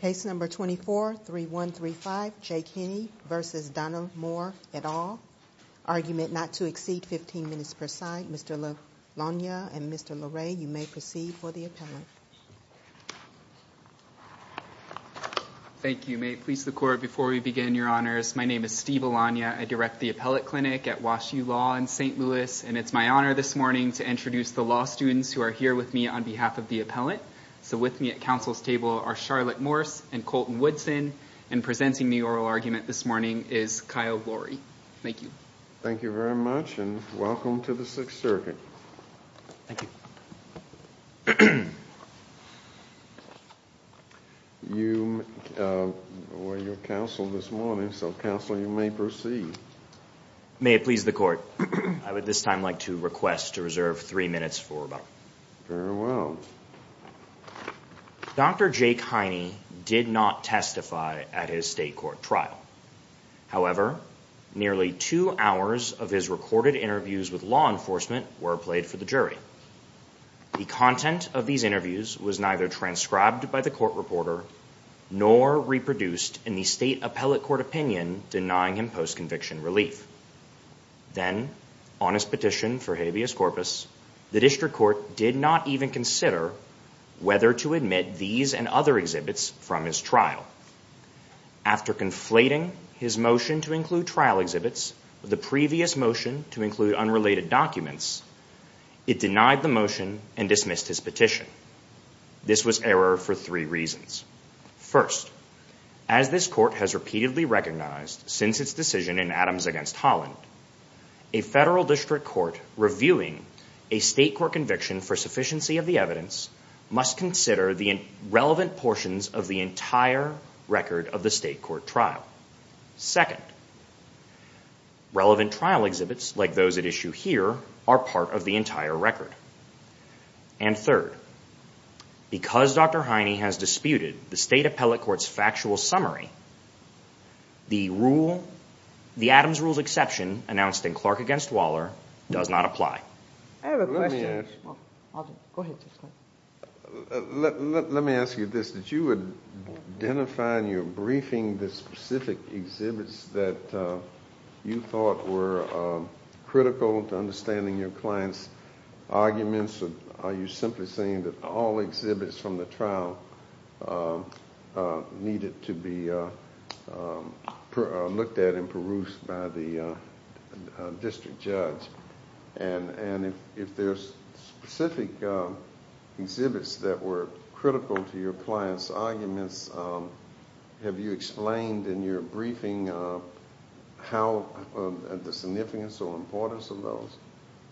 Case No. 24-3135, Jake Heiney v. Donna Moore, et al. Argument not to exceed 15 minutes per side. Mr. Alanya and Mr. Loray, you may proceed for the appellate. Thank you. May it please the Court, before we begin, Your Honors, my name is Steve Alanya. I direct the Appellate Clinic at Wash U Law in St. Louis. And it's my honor this morning to introduce the law students who are here with me on behalf of the appellate. So with me at counsel's table are Charlotte Morse and Colton Woodson, and presenting the oral argument this morning is Kyle Loray. Thank you. Thank you very much, and welcome to the Sixth Circuit. Thank you. You were your counsel this morning, so, counsel, you may proceed. May it please the Court, I would at this time like to request to reserve three minutes for rebuttal. Very well. Dr. Jake Heiney did not testify at his state court trial. However, nearly two hours of his recorded interviews with law enforcement were played for the jury. The content of these interviews was neither transcribed by the court reporter, nor reproduced in the state appellate court opinion denying him post-conviction relief. Then, on his petition for habeas corpus, the district court did not even consider whether to admit these and other exhibits from his trial. After conflating his motion to include trial exhibits with the previous motion to include unrelated documents, it denied the motion and dismissed his petition. This was error for three reasons. First, as this court has repeatedly recognized since its decision in Adams v. Holland, a federal district court reviewing a state court conviction for sufficiency of the evidence must consider the relevant portions of the entire record of the state court trial. Second, relevant trial exhibits, like those at issue here, are part of the entire record. And third, because Dr. Heiney has disputed the state appellate court's factual summary, the Adams rule's exception announced in Clark v. Waller does not apply. I have a question. Let me ask you this. Did you identify in your briefing the specific exhibits that you thought were critical to understanding your client's arguments, or are you simply saying that all exhibits from the trial needed to be looked at and perused by the district judge? And if there's specific exhibits that were critical to your client's arguments, have you explained in your briefing the significance or importance of those?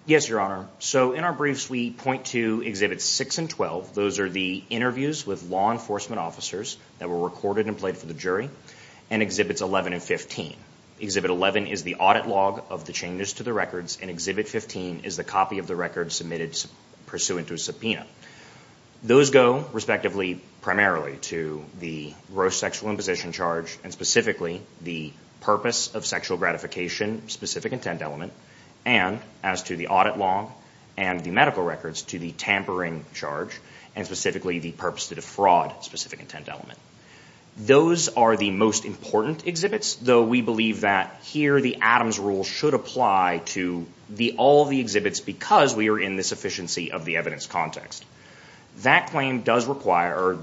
Yes, Your Honor. So in our briefs, we point to Exhibits 6 and 12. Those are the interviews with law enforcement officers that were recorded and played for the jury, and Exhibits 11 and 15. Exhibit 11 is the audit log of the changes to the records, and Exhibit 15 is the copy of the records submitted pursuant to a subpoena. Those go, respectively, primarily to the gross sexual imposition charge and specifically the purpose of sexual gratification specific intent element, and as to the audit log and the medical records, to the tampering charge and specifically the purpose to defraud specific intent element. Those are the most important exhibits, though we believe that here the Adams rule should apply to all the exhibits because we are in the sufficiency of the evidence context. That claim does require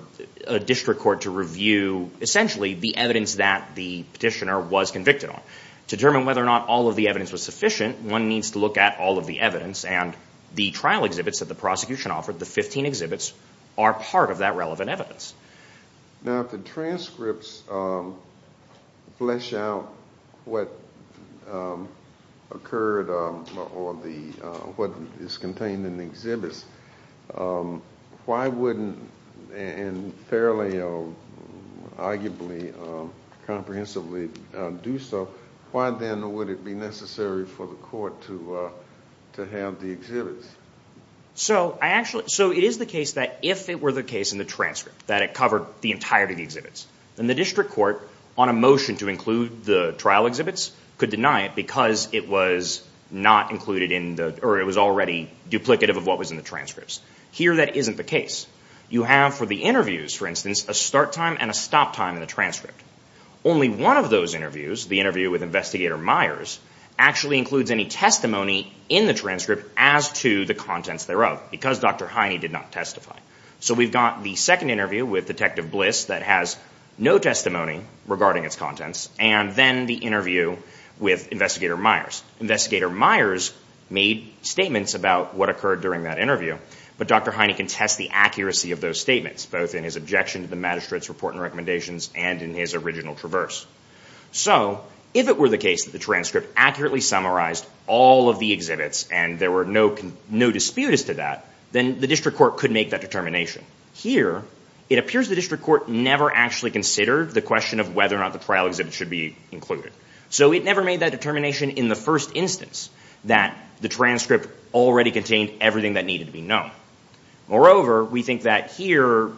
a district court to review, essentially, the evidence that the petitioner was convicted on. To determine whether or not all of the evidence was sufficient, one needs to look at all of the evidence, and the trial exhibits that the prosecution offered, the 15 exhibits, are part of that relevant evidence. Now, if the transcripts flesh out what occurred or what is contained in the exhibits, why wouldn't, and fairly or arguably comprehensively do so, why then would it be necessary for the court to have the exhibits? So it is the case that if it were the case in the transcript that it covered the entirety of the exhibits, then the district court on a motion to include the trial exhibits could deny it because it was already duplicative of what was in the transcripts. Here that isn't the case. You have for the interviews, for instance, a start time and a stop time in the transcript. Only one of those interviews, the interview with Investigator Myers, actually includes any testimony in the transcript as to the contents thereof because Dr. Hiney did not testify. So we've got the second interview with Detective Bliss that has no testimony regarding its contents, and then the interview with Investigator Myers. Investigator Myers made statements about what occurred during that interview, but Dr. Hiney can test the accuracy of those statements, both in his objection to the magistrate's report and recommendations and in his original traverse. So if it were the case that the transcript accurately summarized all of the exhibits and there were no disputes to that, then the district court could make that determination. Here it appears the district court never actually considered the question of whether or not the trial exhibits should be included. So it never made that determination in the first instance that the transcript already contained everything that needed to be known. Moreover, we think that here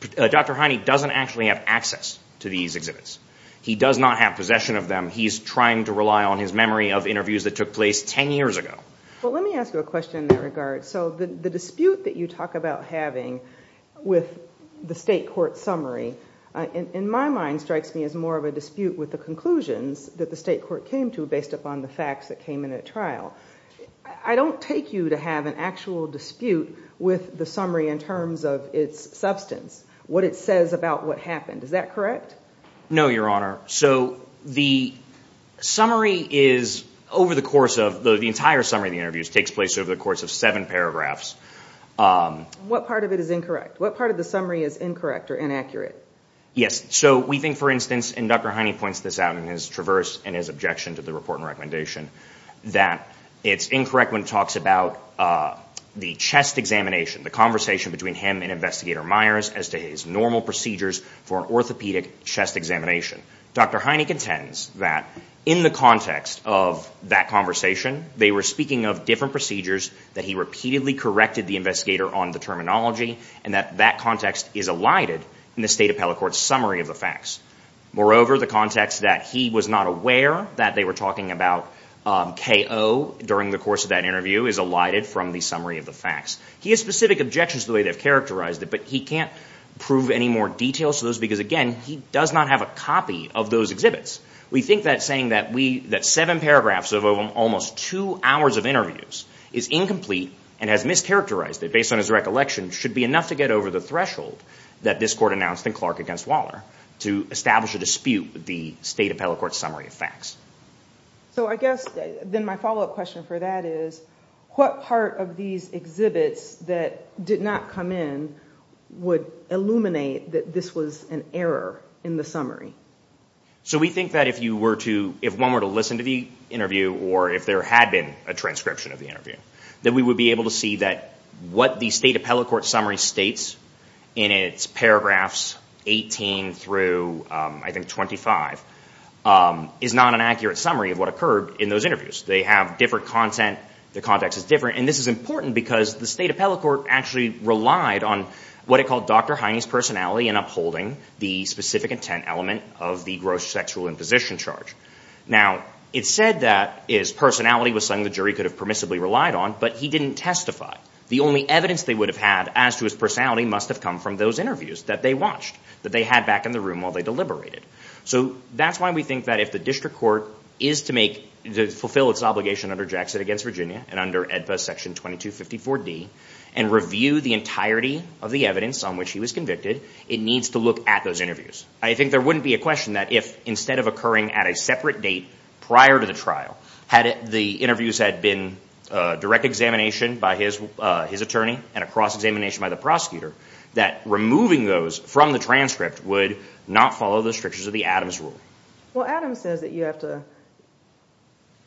Dr. Hiney doesn't actually have access to these exhibits. He does not have possession of them. He's trying to rely on his memory of interviews that took place 10 years ago. Well, let me ask you a question in that regard. So the dispute that you talk about having with the state court summary, in my mind, strikes me as more of a dispute with the conclusions that the state court came to based upon the facts that came in at trial. I don't take you to have an actual dispute with the summary in terms of its substance, what it says about what happened. Is that correct? No, Your Honor. So the summary is over the course of, the entire summary of the interviews takes place over the course of seven paragraphs. What part of it is incorrect? What part of the summary is incorrect or inaccurate? Yes. So we think, for instance, and Dr. Hiney points this out in his traverse and his objection to the report and recommendation, that it's incorrect when it talks about the chest examination, the conversation between him and Investigator Myers as to his normal procedures for an orthopedic chest examination. Dr. Hiney contends that in the context of that conversation, they were speaking of different procedures, that he repeatedly corrected the investigator on the terminology, and that that context is elided in the state appellate court's summary of the facts. Moreover, the context that he was not aware that they were talking about KO during the course of that interview is elided from the summary of the facts. He has specific objections to the way they've characterized it, but he can't prove any more details to those because, again, he does not have a copy of those exhibits. We think that saying that seven paragraphs of almost two hours of interviews is incomplete and has mischaracterized it based on his recollection should be enough to get over the threshold that this Court announced in Clark v. Waller to establish a dispute with the state appellate court's summary of facts. So I guess then my follow-up question for that is what part of these exhibits that did not come in would illuminate that this was an error in the summary? So we think that if one were to listen to the interview or if there had been a transcription of the interview, that we would be able to see that what the state appellate court summary states in its paragraphs 18 through, I think, 25, is not an accurate summary of what occurred in those interviews. They have different content. The context is different. And this is important because the state appellate court actually relied on what it called Dr. Hiney's personality in upholding the specific intent element of the gross sexual imposition charge. Now, it said that his personality was something the jury could have permissibly relied on, but he didn't testify. The only evidence they would have had as to his personality must have come from those interviews that they watched, that they had back in the room while they deliberated. So that's why we think that if the district court is to fulfill its obligation under Jackson v. Virginia and under AEDPA Section 2254d and review the entirety of the evidence on which he was convicted, it needs to look at those interviews. I think there wouldn't be a question that if, instead of occurring at a separate date prior to the trial, had the interviews had been a direct examination by his attorney and a cross-examination by the prosecutor, that removing those from the transcript would not follow the strictures of the Adams rule. Well, Adams says that you have to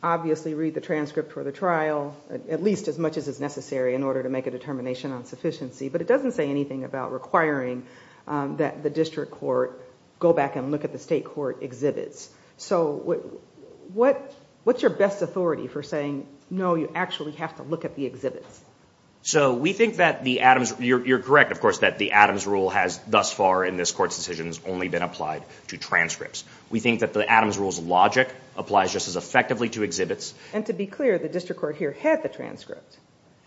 obviously read the transcript for the trial, at least as much as is necessary in order to make a determination on sufficiency, but it doesn't say anything about requiring that the district court go back and look at the state court exhibits. So what's your best authority for saying, no, you actually have to look at the exhibits? So we think that the Adams, you're correct, of course, that the Adams rule has thus far in this Court's decisions only been applied to transcripts. We think that the Adams rule's logic applies just as effectively to exhibits. And to be clear, the district court here had the transcript.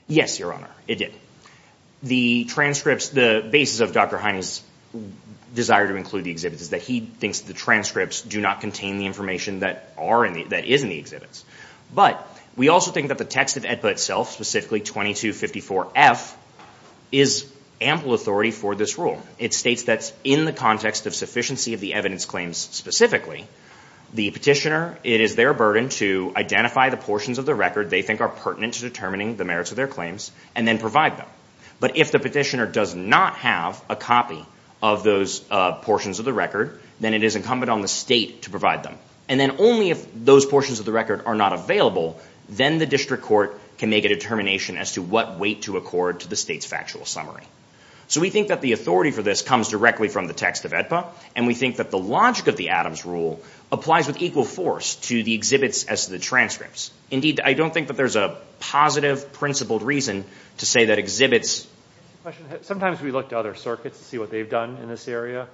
Yes, Your Honor, it did. The transcripts, the basis of Dr. Hines' desire to include the exhibits is that he thinks the transcripts do not contain the information that is in the exhibits. But we also think that the text of AEDPA itself, specifically 2254F, is ample authority for this rule. It states that in the context of sufficiency of the evidence claims specifically, the petitioner, it is their burden to identify the portions of the record they think are pertinent to determining the merits of their claims and then provide them. But if the petitioner does not have a copy of those portions of the record, then it is incumbent on the state to provide them. And then only if those portions of the record are not available, then the district court can make a determination as to what weight to accord to the state's factual summary. So we think that the authority for this comes directly from the text of AEDPA, and we think that the logic of the Adams rule applies with equal force to the exhibits as to the transcripts. Indeed, I don't think that there's a positive principled reason to say that exhibits... Sometimes we look to other circuits to see what they've done in this area.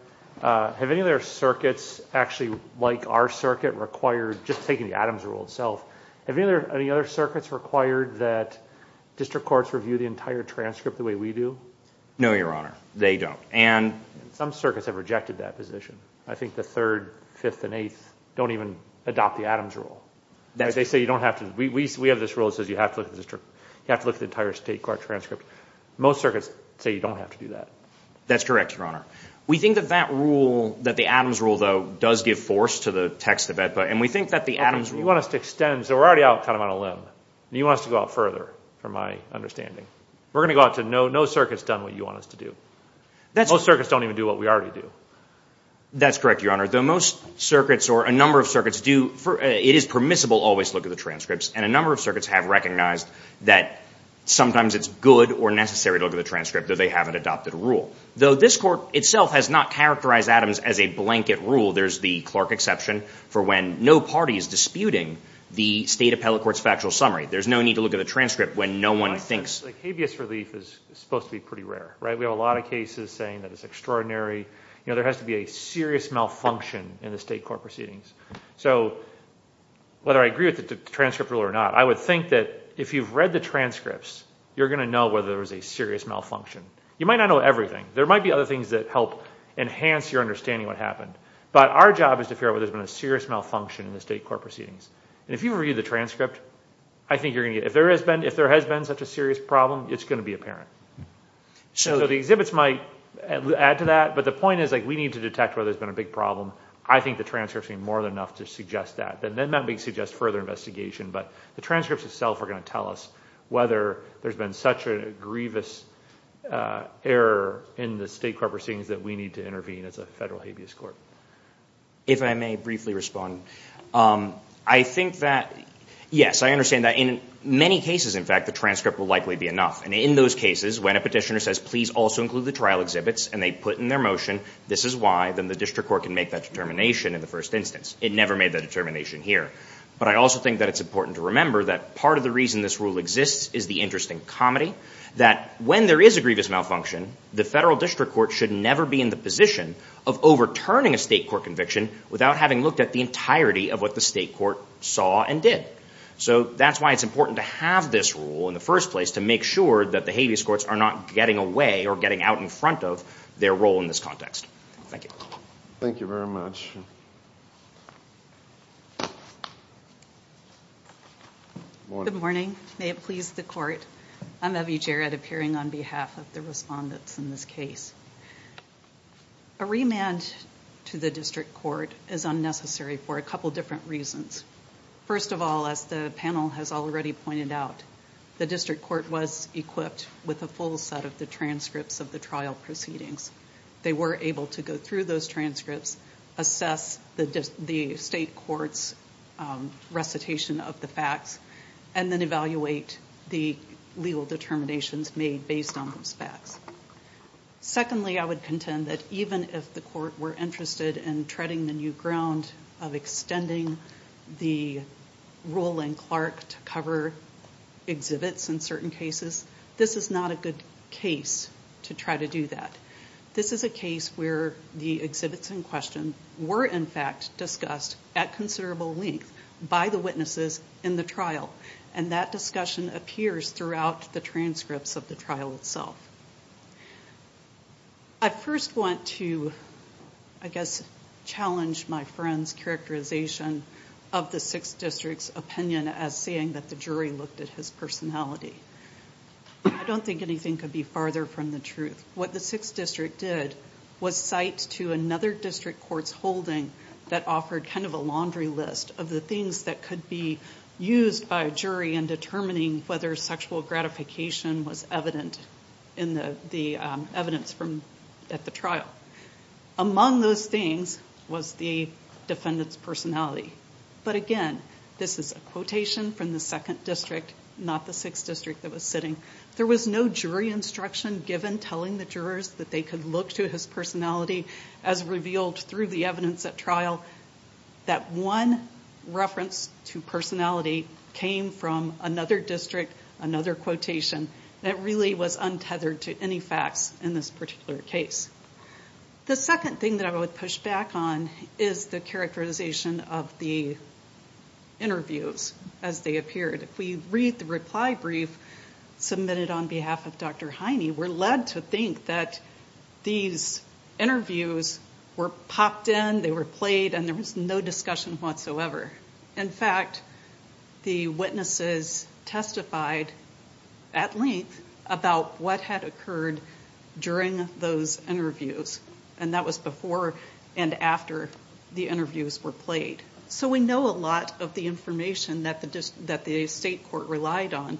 Have any other circuits actually, like our circuit, required, just taking the Adams rule itself, have any other circuits required that district courts review the entire transcript the way we do? No, Your Honor. They don't. Some circuits have rejected that position. I think the Third, Fifth, and Eighth don't even adopt the Adams rule. They say you don't have to. We have this rule that says you have to look at the entire state court transcript. Most circuits say you don't have to do that. That's correct, Your Honor. We think that that rule, that the Adams rule, though, does give force to the text of AEDPA, and we think that the Adams rule... You want us to extend, so we're already out kind of on a limb, and you want us to go out further, from my understanding. We're going to go out to no circuits done what you want us to do. Most circuits don't even do what we already do. That's correct, Your Honor. Though most circuits, or a number of circuits do, it is permissible always to look at the transcripts, and a number of circuits have recognized that sometimes it's good or necessary to look at the transcript, though they haven't adopted a rule. Though this court itself has not characterized Adams as a blanket rule. There's the Clark exception for when no party is disputing the state appellate court's factual summary. There's no need to look at the transcript when no one thinks... Habeas relief is supposed to be pretty rare. We have a lot of cases saying that it's extraordinary. There has to be a serious malfunction in the state court proceedings. So whether I agree with the transcript rule or not, I would think that if you've read the transcripts, you're going to know whether there was a serious malfunction. You might not know everything. There might be other things that help enhance your understanding of what happened. But our job is to figure out whether there's been a serious malfunction in the state court proceedings. If you read the transcript, I think you're going to get it. If there has been such a serious problem, it's going to be apparent. So the exhibits might add to that, but the point is we need to detect whether there's been a big problem. I think the transcripts are more than enough to suggest that. Then that might suggest further investigation, but the transcripts itself are going to tell us whether there's been such a grievous error in the state court proceedings that we need to intervene as a federal habeas court. If I may briefly respond, I think that, yes, I understand that. In many cases, in fact, the transcript will likely be enough. In those cases, when a petitioner says, please also include the trial exhibits and they put in their motion this is why, then the district court can make that determination in the first instance. It never made that determination here. But I also think that it's important to remember that part of the reason this rule exists is the interest in comedy, that when there is a grievous malfunction, the federal district court should never be in the position of overturning a state court conviction without having looked at the entirety of what the state court saw and did. So that's why it's important to have this rule in the first place to make sure that the habeas courts are not getting away or getting out in front of their role in this context. Thank you. Thank you very much. Next question. Good morning. May it please the court. I'm Evie Jarrett, appearing on behalf of the respondents in this case. A remand to the district court is unnecessary for a couple different reasons. First of all, as the panel has already pointed out, the district court was equipped with a full set of the transcripts of the trial proceedings. They were able to go through those transcripts, assess the state court's recitation of the facts, and then evaluate the legal determinations made based on those facts. Secondly, I would contend that even if the court were interested in treading the new ground of extending the rule in Clark to cover exhibits in certain cases, this is not a good case to try to do that. This is a case where the exhibits in question were, in fact, discussed at considerable length by the witnesses in the trial, and that discussion appears throughout the transcripts of the trial itself. I first want to, I guess, challenge my friend's characterization of the 6th District's opinion as saying that the jury looked at his personality. I don't think anything could be farther from the truth. What the 6th District did was cite to another district court's holding that offered kind of a laundry list of the things that could be used by a jury in determining whether sexual gratification was evident in the evidence at the trial. Among those things was the defendant's personality. But again, this is a quotation from the 2nd District, not the 6th District that was sitting. There was no jury instruction given telling the jurors that they could look to his personality as revealed through the evidence at trial. That one reference to personality came from another district, another quotation, that really was untethered to any facts in this particular case. The second thing that I would push back on is the characterization of the interviews as they appeared. If we read the reply brief submitted on behalf of Dr. Heine, we're led to think that these interviews were popped in, they were played, and there was no discussion whatsoever. In fact, the witnesses testified at length about what had occurred during those interviews, and that was before and after the interviews were played. So we know a lot of the information that the state court relied on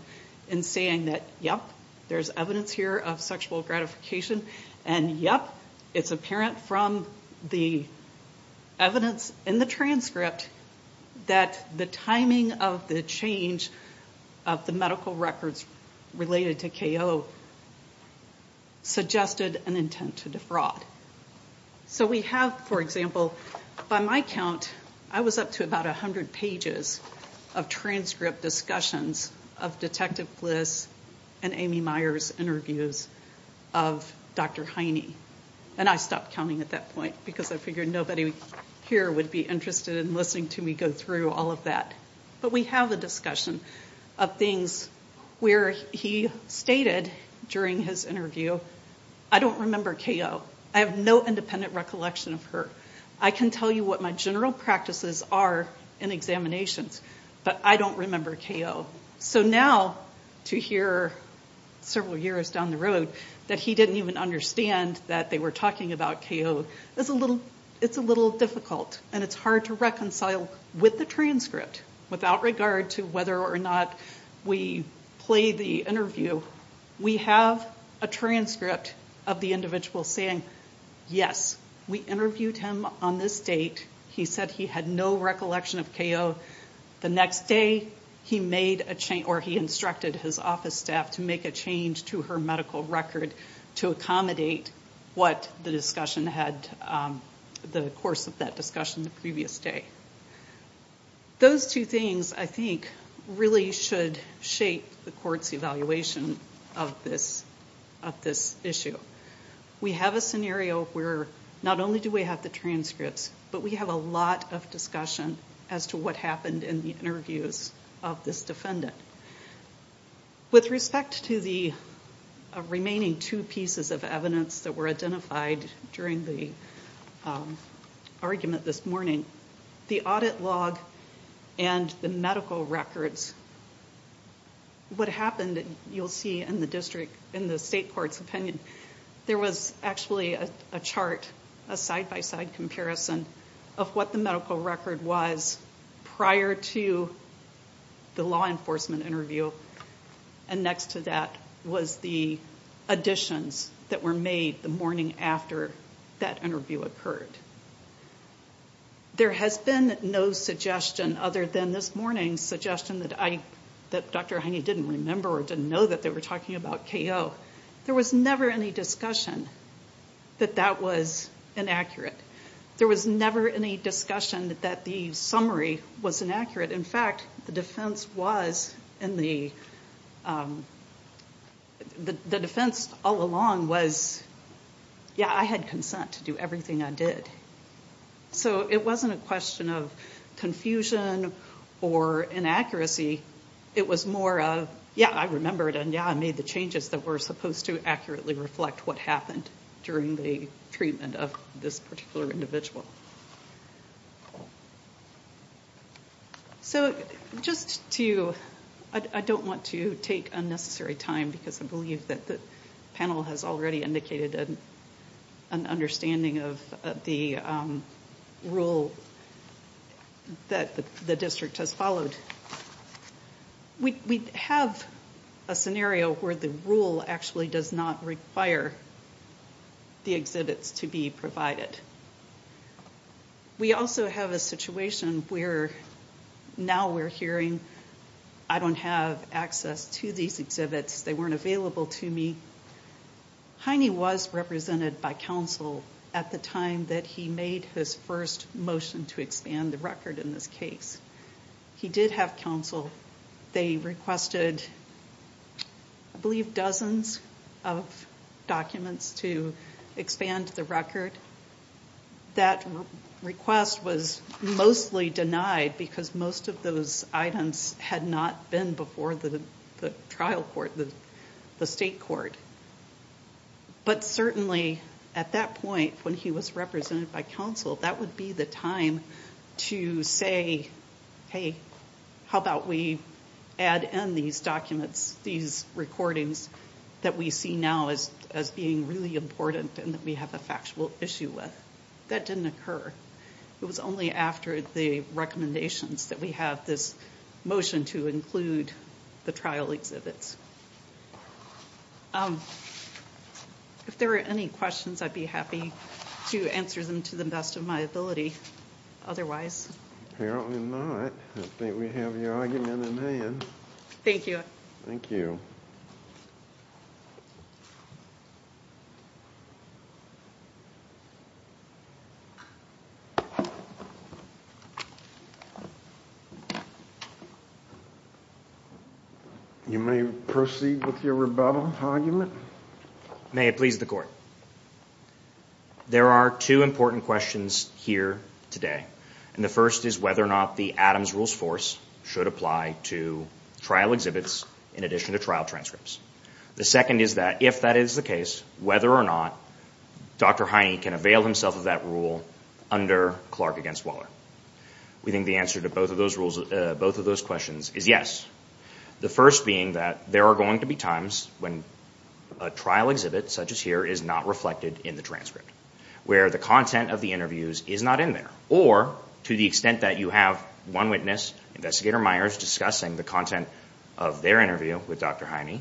in saying that, yep, there's evidence here of sexual gratification, and, yep, it's apparent from the evidence in the transcript that the timing of the change of the medical records related to K.O. suggested an intent to defraud. So we have, for example, by my count, I was up to about 100 pages of transcript discussions of Detective Bliss and Amy Meyer's interviews of Dr. Heine. And I stopped counting at that point because I figured nobody here would be interested in listening to me go through all of that. But we have the discussion of things where he stated during his interview, I don't remember K.O. I have no independent recollection of her. I can tell you what my general practices are in examinations, but I don't remember K.O. So now to hear several years down the road that he didn't even understand that they were talking about K.O. is a little difficult, and it's hard to reconcile with the transcript without regard to whether or not we played the interview. We have a transcript of the individual saying, yes, we interviewed him on this date. He said he had no recollection of K.O. The next day he instructed his office staff to make a change to her medical record to accommodate what the course of that discussion the previous day. Those two things, I think, really should shape the court's evaluation of this issue. We have a scenario where not only do we have the transcripts, but we have a lot of discussion as to what happened in the interviews of this defendant. With respect to the remaining two pieces of evidence that were identified during the argument this morning, the audit log and the medical records, what happened, you'll see in the state court's opinion, there was actually a chart, a side-by-side comparison of what the medical record was prior to the law enforcement interview, and next to that was the additions that were made the morning after that interview occurred. There has been no suggestion other than this morning's suggestion that Dr. Haney didn't remember or didn't know that they were talking about K.O. There was never any discussion that that was inaccurate. There was never any discussion that the summary was inaccurate. In fact, the defense all along was, yeah, I had consent to do everything I did. So it wasn't a question of confusion or inaccuracy. It was more of, yeah, I remember it, and yeah, I made the changes that were supposed to accurately reflect what happened during the treatment of this particular individual. So just to—I don't want to take unnecessary time because I believe that the panel has already indicated an understanding of the rule that the district has followed. We have a scenario where the rule actually does not require the exhibits to be provided. We also have a situation where now we're hearing, I don't have access to these exhibits, they weren't available to me. Haney was represented by counsel at the time that he made his first motion to expand the record in this case. He did have counsel. They requested, I believe, dozens of documents to expand the record. That request was mostly denied because most of those items had not been before the trial court, the state court. But certainly at that point when he was represented by counsel, that would be the time to say, hey, how about we add in these documents, these recordings that we see now as being really important and that we have a factual issue with. That didn't occur. It was only after the recommendations that we have this motion to include the trial exhibits. If there are any questions, I'd be happy to answer them to the best of my ability. Otherwise— Apparently not. I think we have your argument in hand. Thank you. Thank you. You may proceed with your rebuttal argument. May it please the Court. There are two important questions here today. The first is whether or not the Adams Rules Force should apply to trial exhibits in addition to trial transcripts. The second is that if that is the case, whether or not Dr. Haney can avail himself of that rule under Clark v. Waller. We think the answer to both of those questions is yes. The first being that there are going to be times when a trial exhibit such as here is not reflected in the transcript, where the content of the interviews is not in there, or to the extent that you have one witness, Investigator Myers, discussing the content of their interview with Dr. Haney,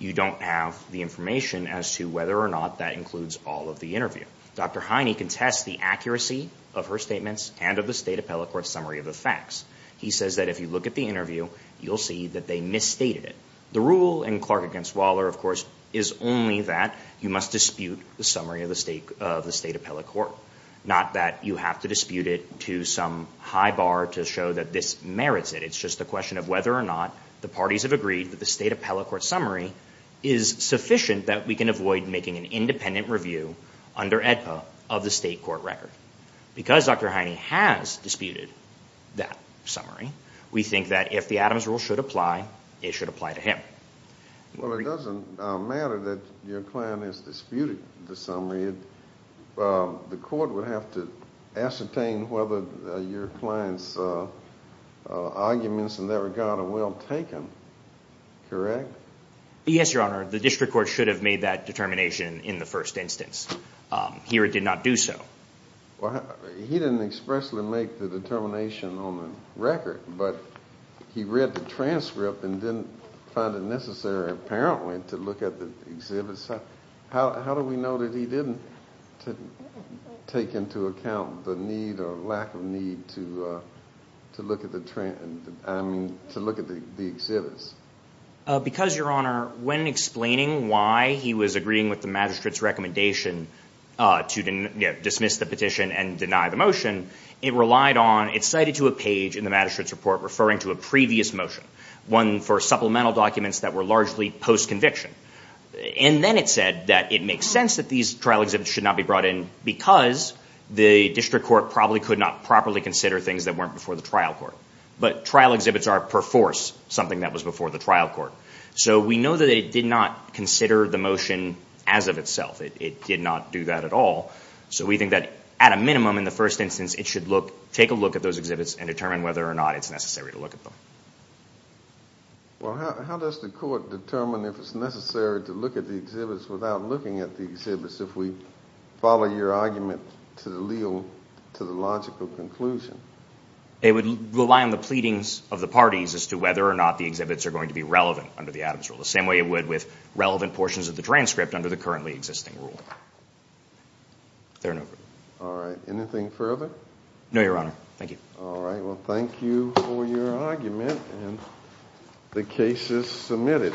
you don't have the information as to whether or not that includes all of the interview. Dr. Haney contests the accuracy of her statements and of the State Appellate Court summary of the facts. He says that if you look at the interview, you'll see that they misstated it. The rule in Clark v. Waller, of course, is only that you must dispute the summary of the State Appellate Court, not that you have to dispute it to some high bar to show that this merits it. It's just a question of whether or not the parties have agreed that the State Appellate Court summary is sufficient that we can avoid making an independent review under AEDPA of the State Court record. Because Dr. Haney has disputed that summary, we think that if the Adams rule should apply, it should apply to him. Well, it doesn't matter that your client has disputed the summary. The court would have to ascertain whether your client's arguments in that regard are well taken, correct? Yes, Your Honor. The district court should have made that determination in the first instance. Here it did not do so. He didn't expressly make the determination on the record, but he read the transcript and didn't find it necessary apparently to look at the exhibits. How do we know that he didn't take into account the need or lack of need to look at the exhibits? Because, Your Honor, when explaining why he was agreeing with the magistrate's recommendation to dismiss the petition and deny the motion, it relied on it cited to a page in the magistrate's report referring to a previous motion, one for supplemental documents that were largely post-conviction. And then it said that it makes sense that these trial exhibits should not be brought in because the district court probably could not properly consider things that weren't before the trial court. But trial exhibits are per force something that was before the trial court. So we know that it did not consider the motion as of itself. It did not do that at all. So we think that at a minimum in the first instance it should take a look at those exhibits and determine whether or not it's necessary to look at them. Well, how does the court determine if it's necessary to look at the exhibits without looking at the exhibits if we follow your argument to the logical conclusion? It would rely on the pleadings of the parties as to whether or not the exhibits are going to be relevant under the Adams rule, the same way it would with relevant portions of the transcript under the currently existing rule. Therein over. All right. Anything further? No, Your Honor. Thank you. All right. Well, thank you for your argument, and the case is submitted.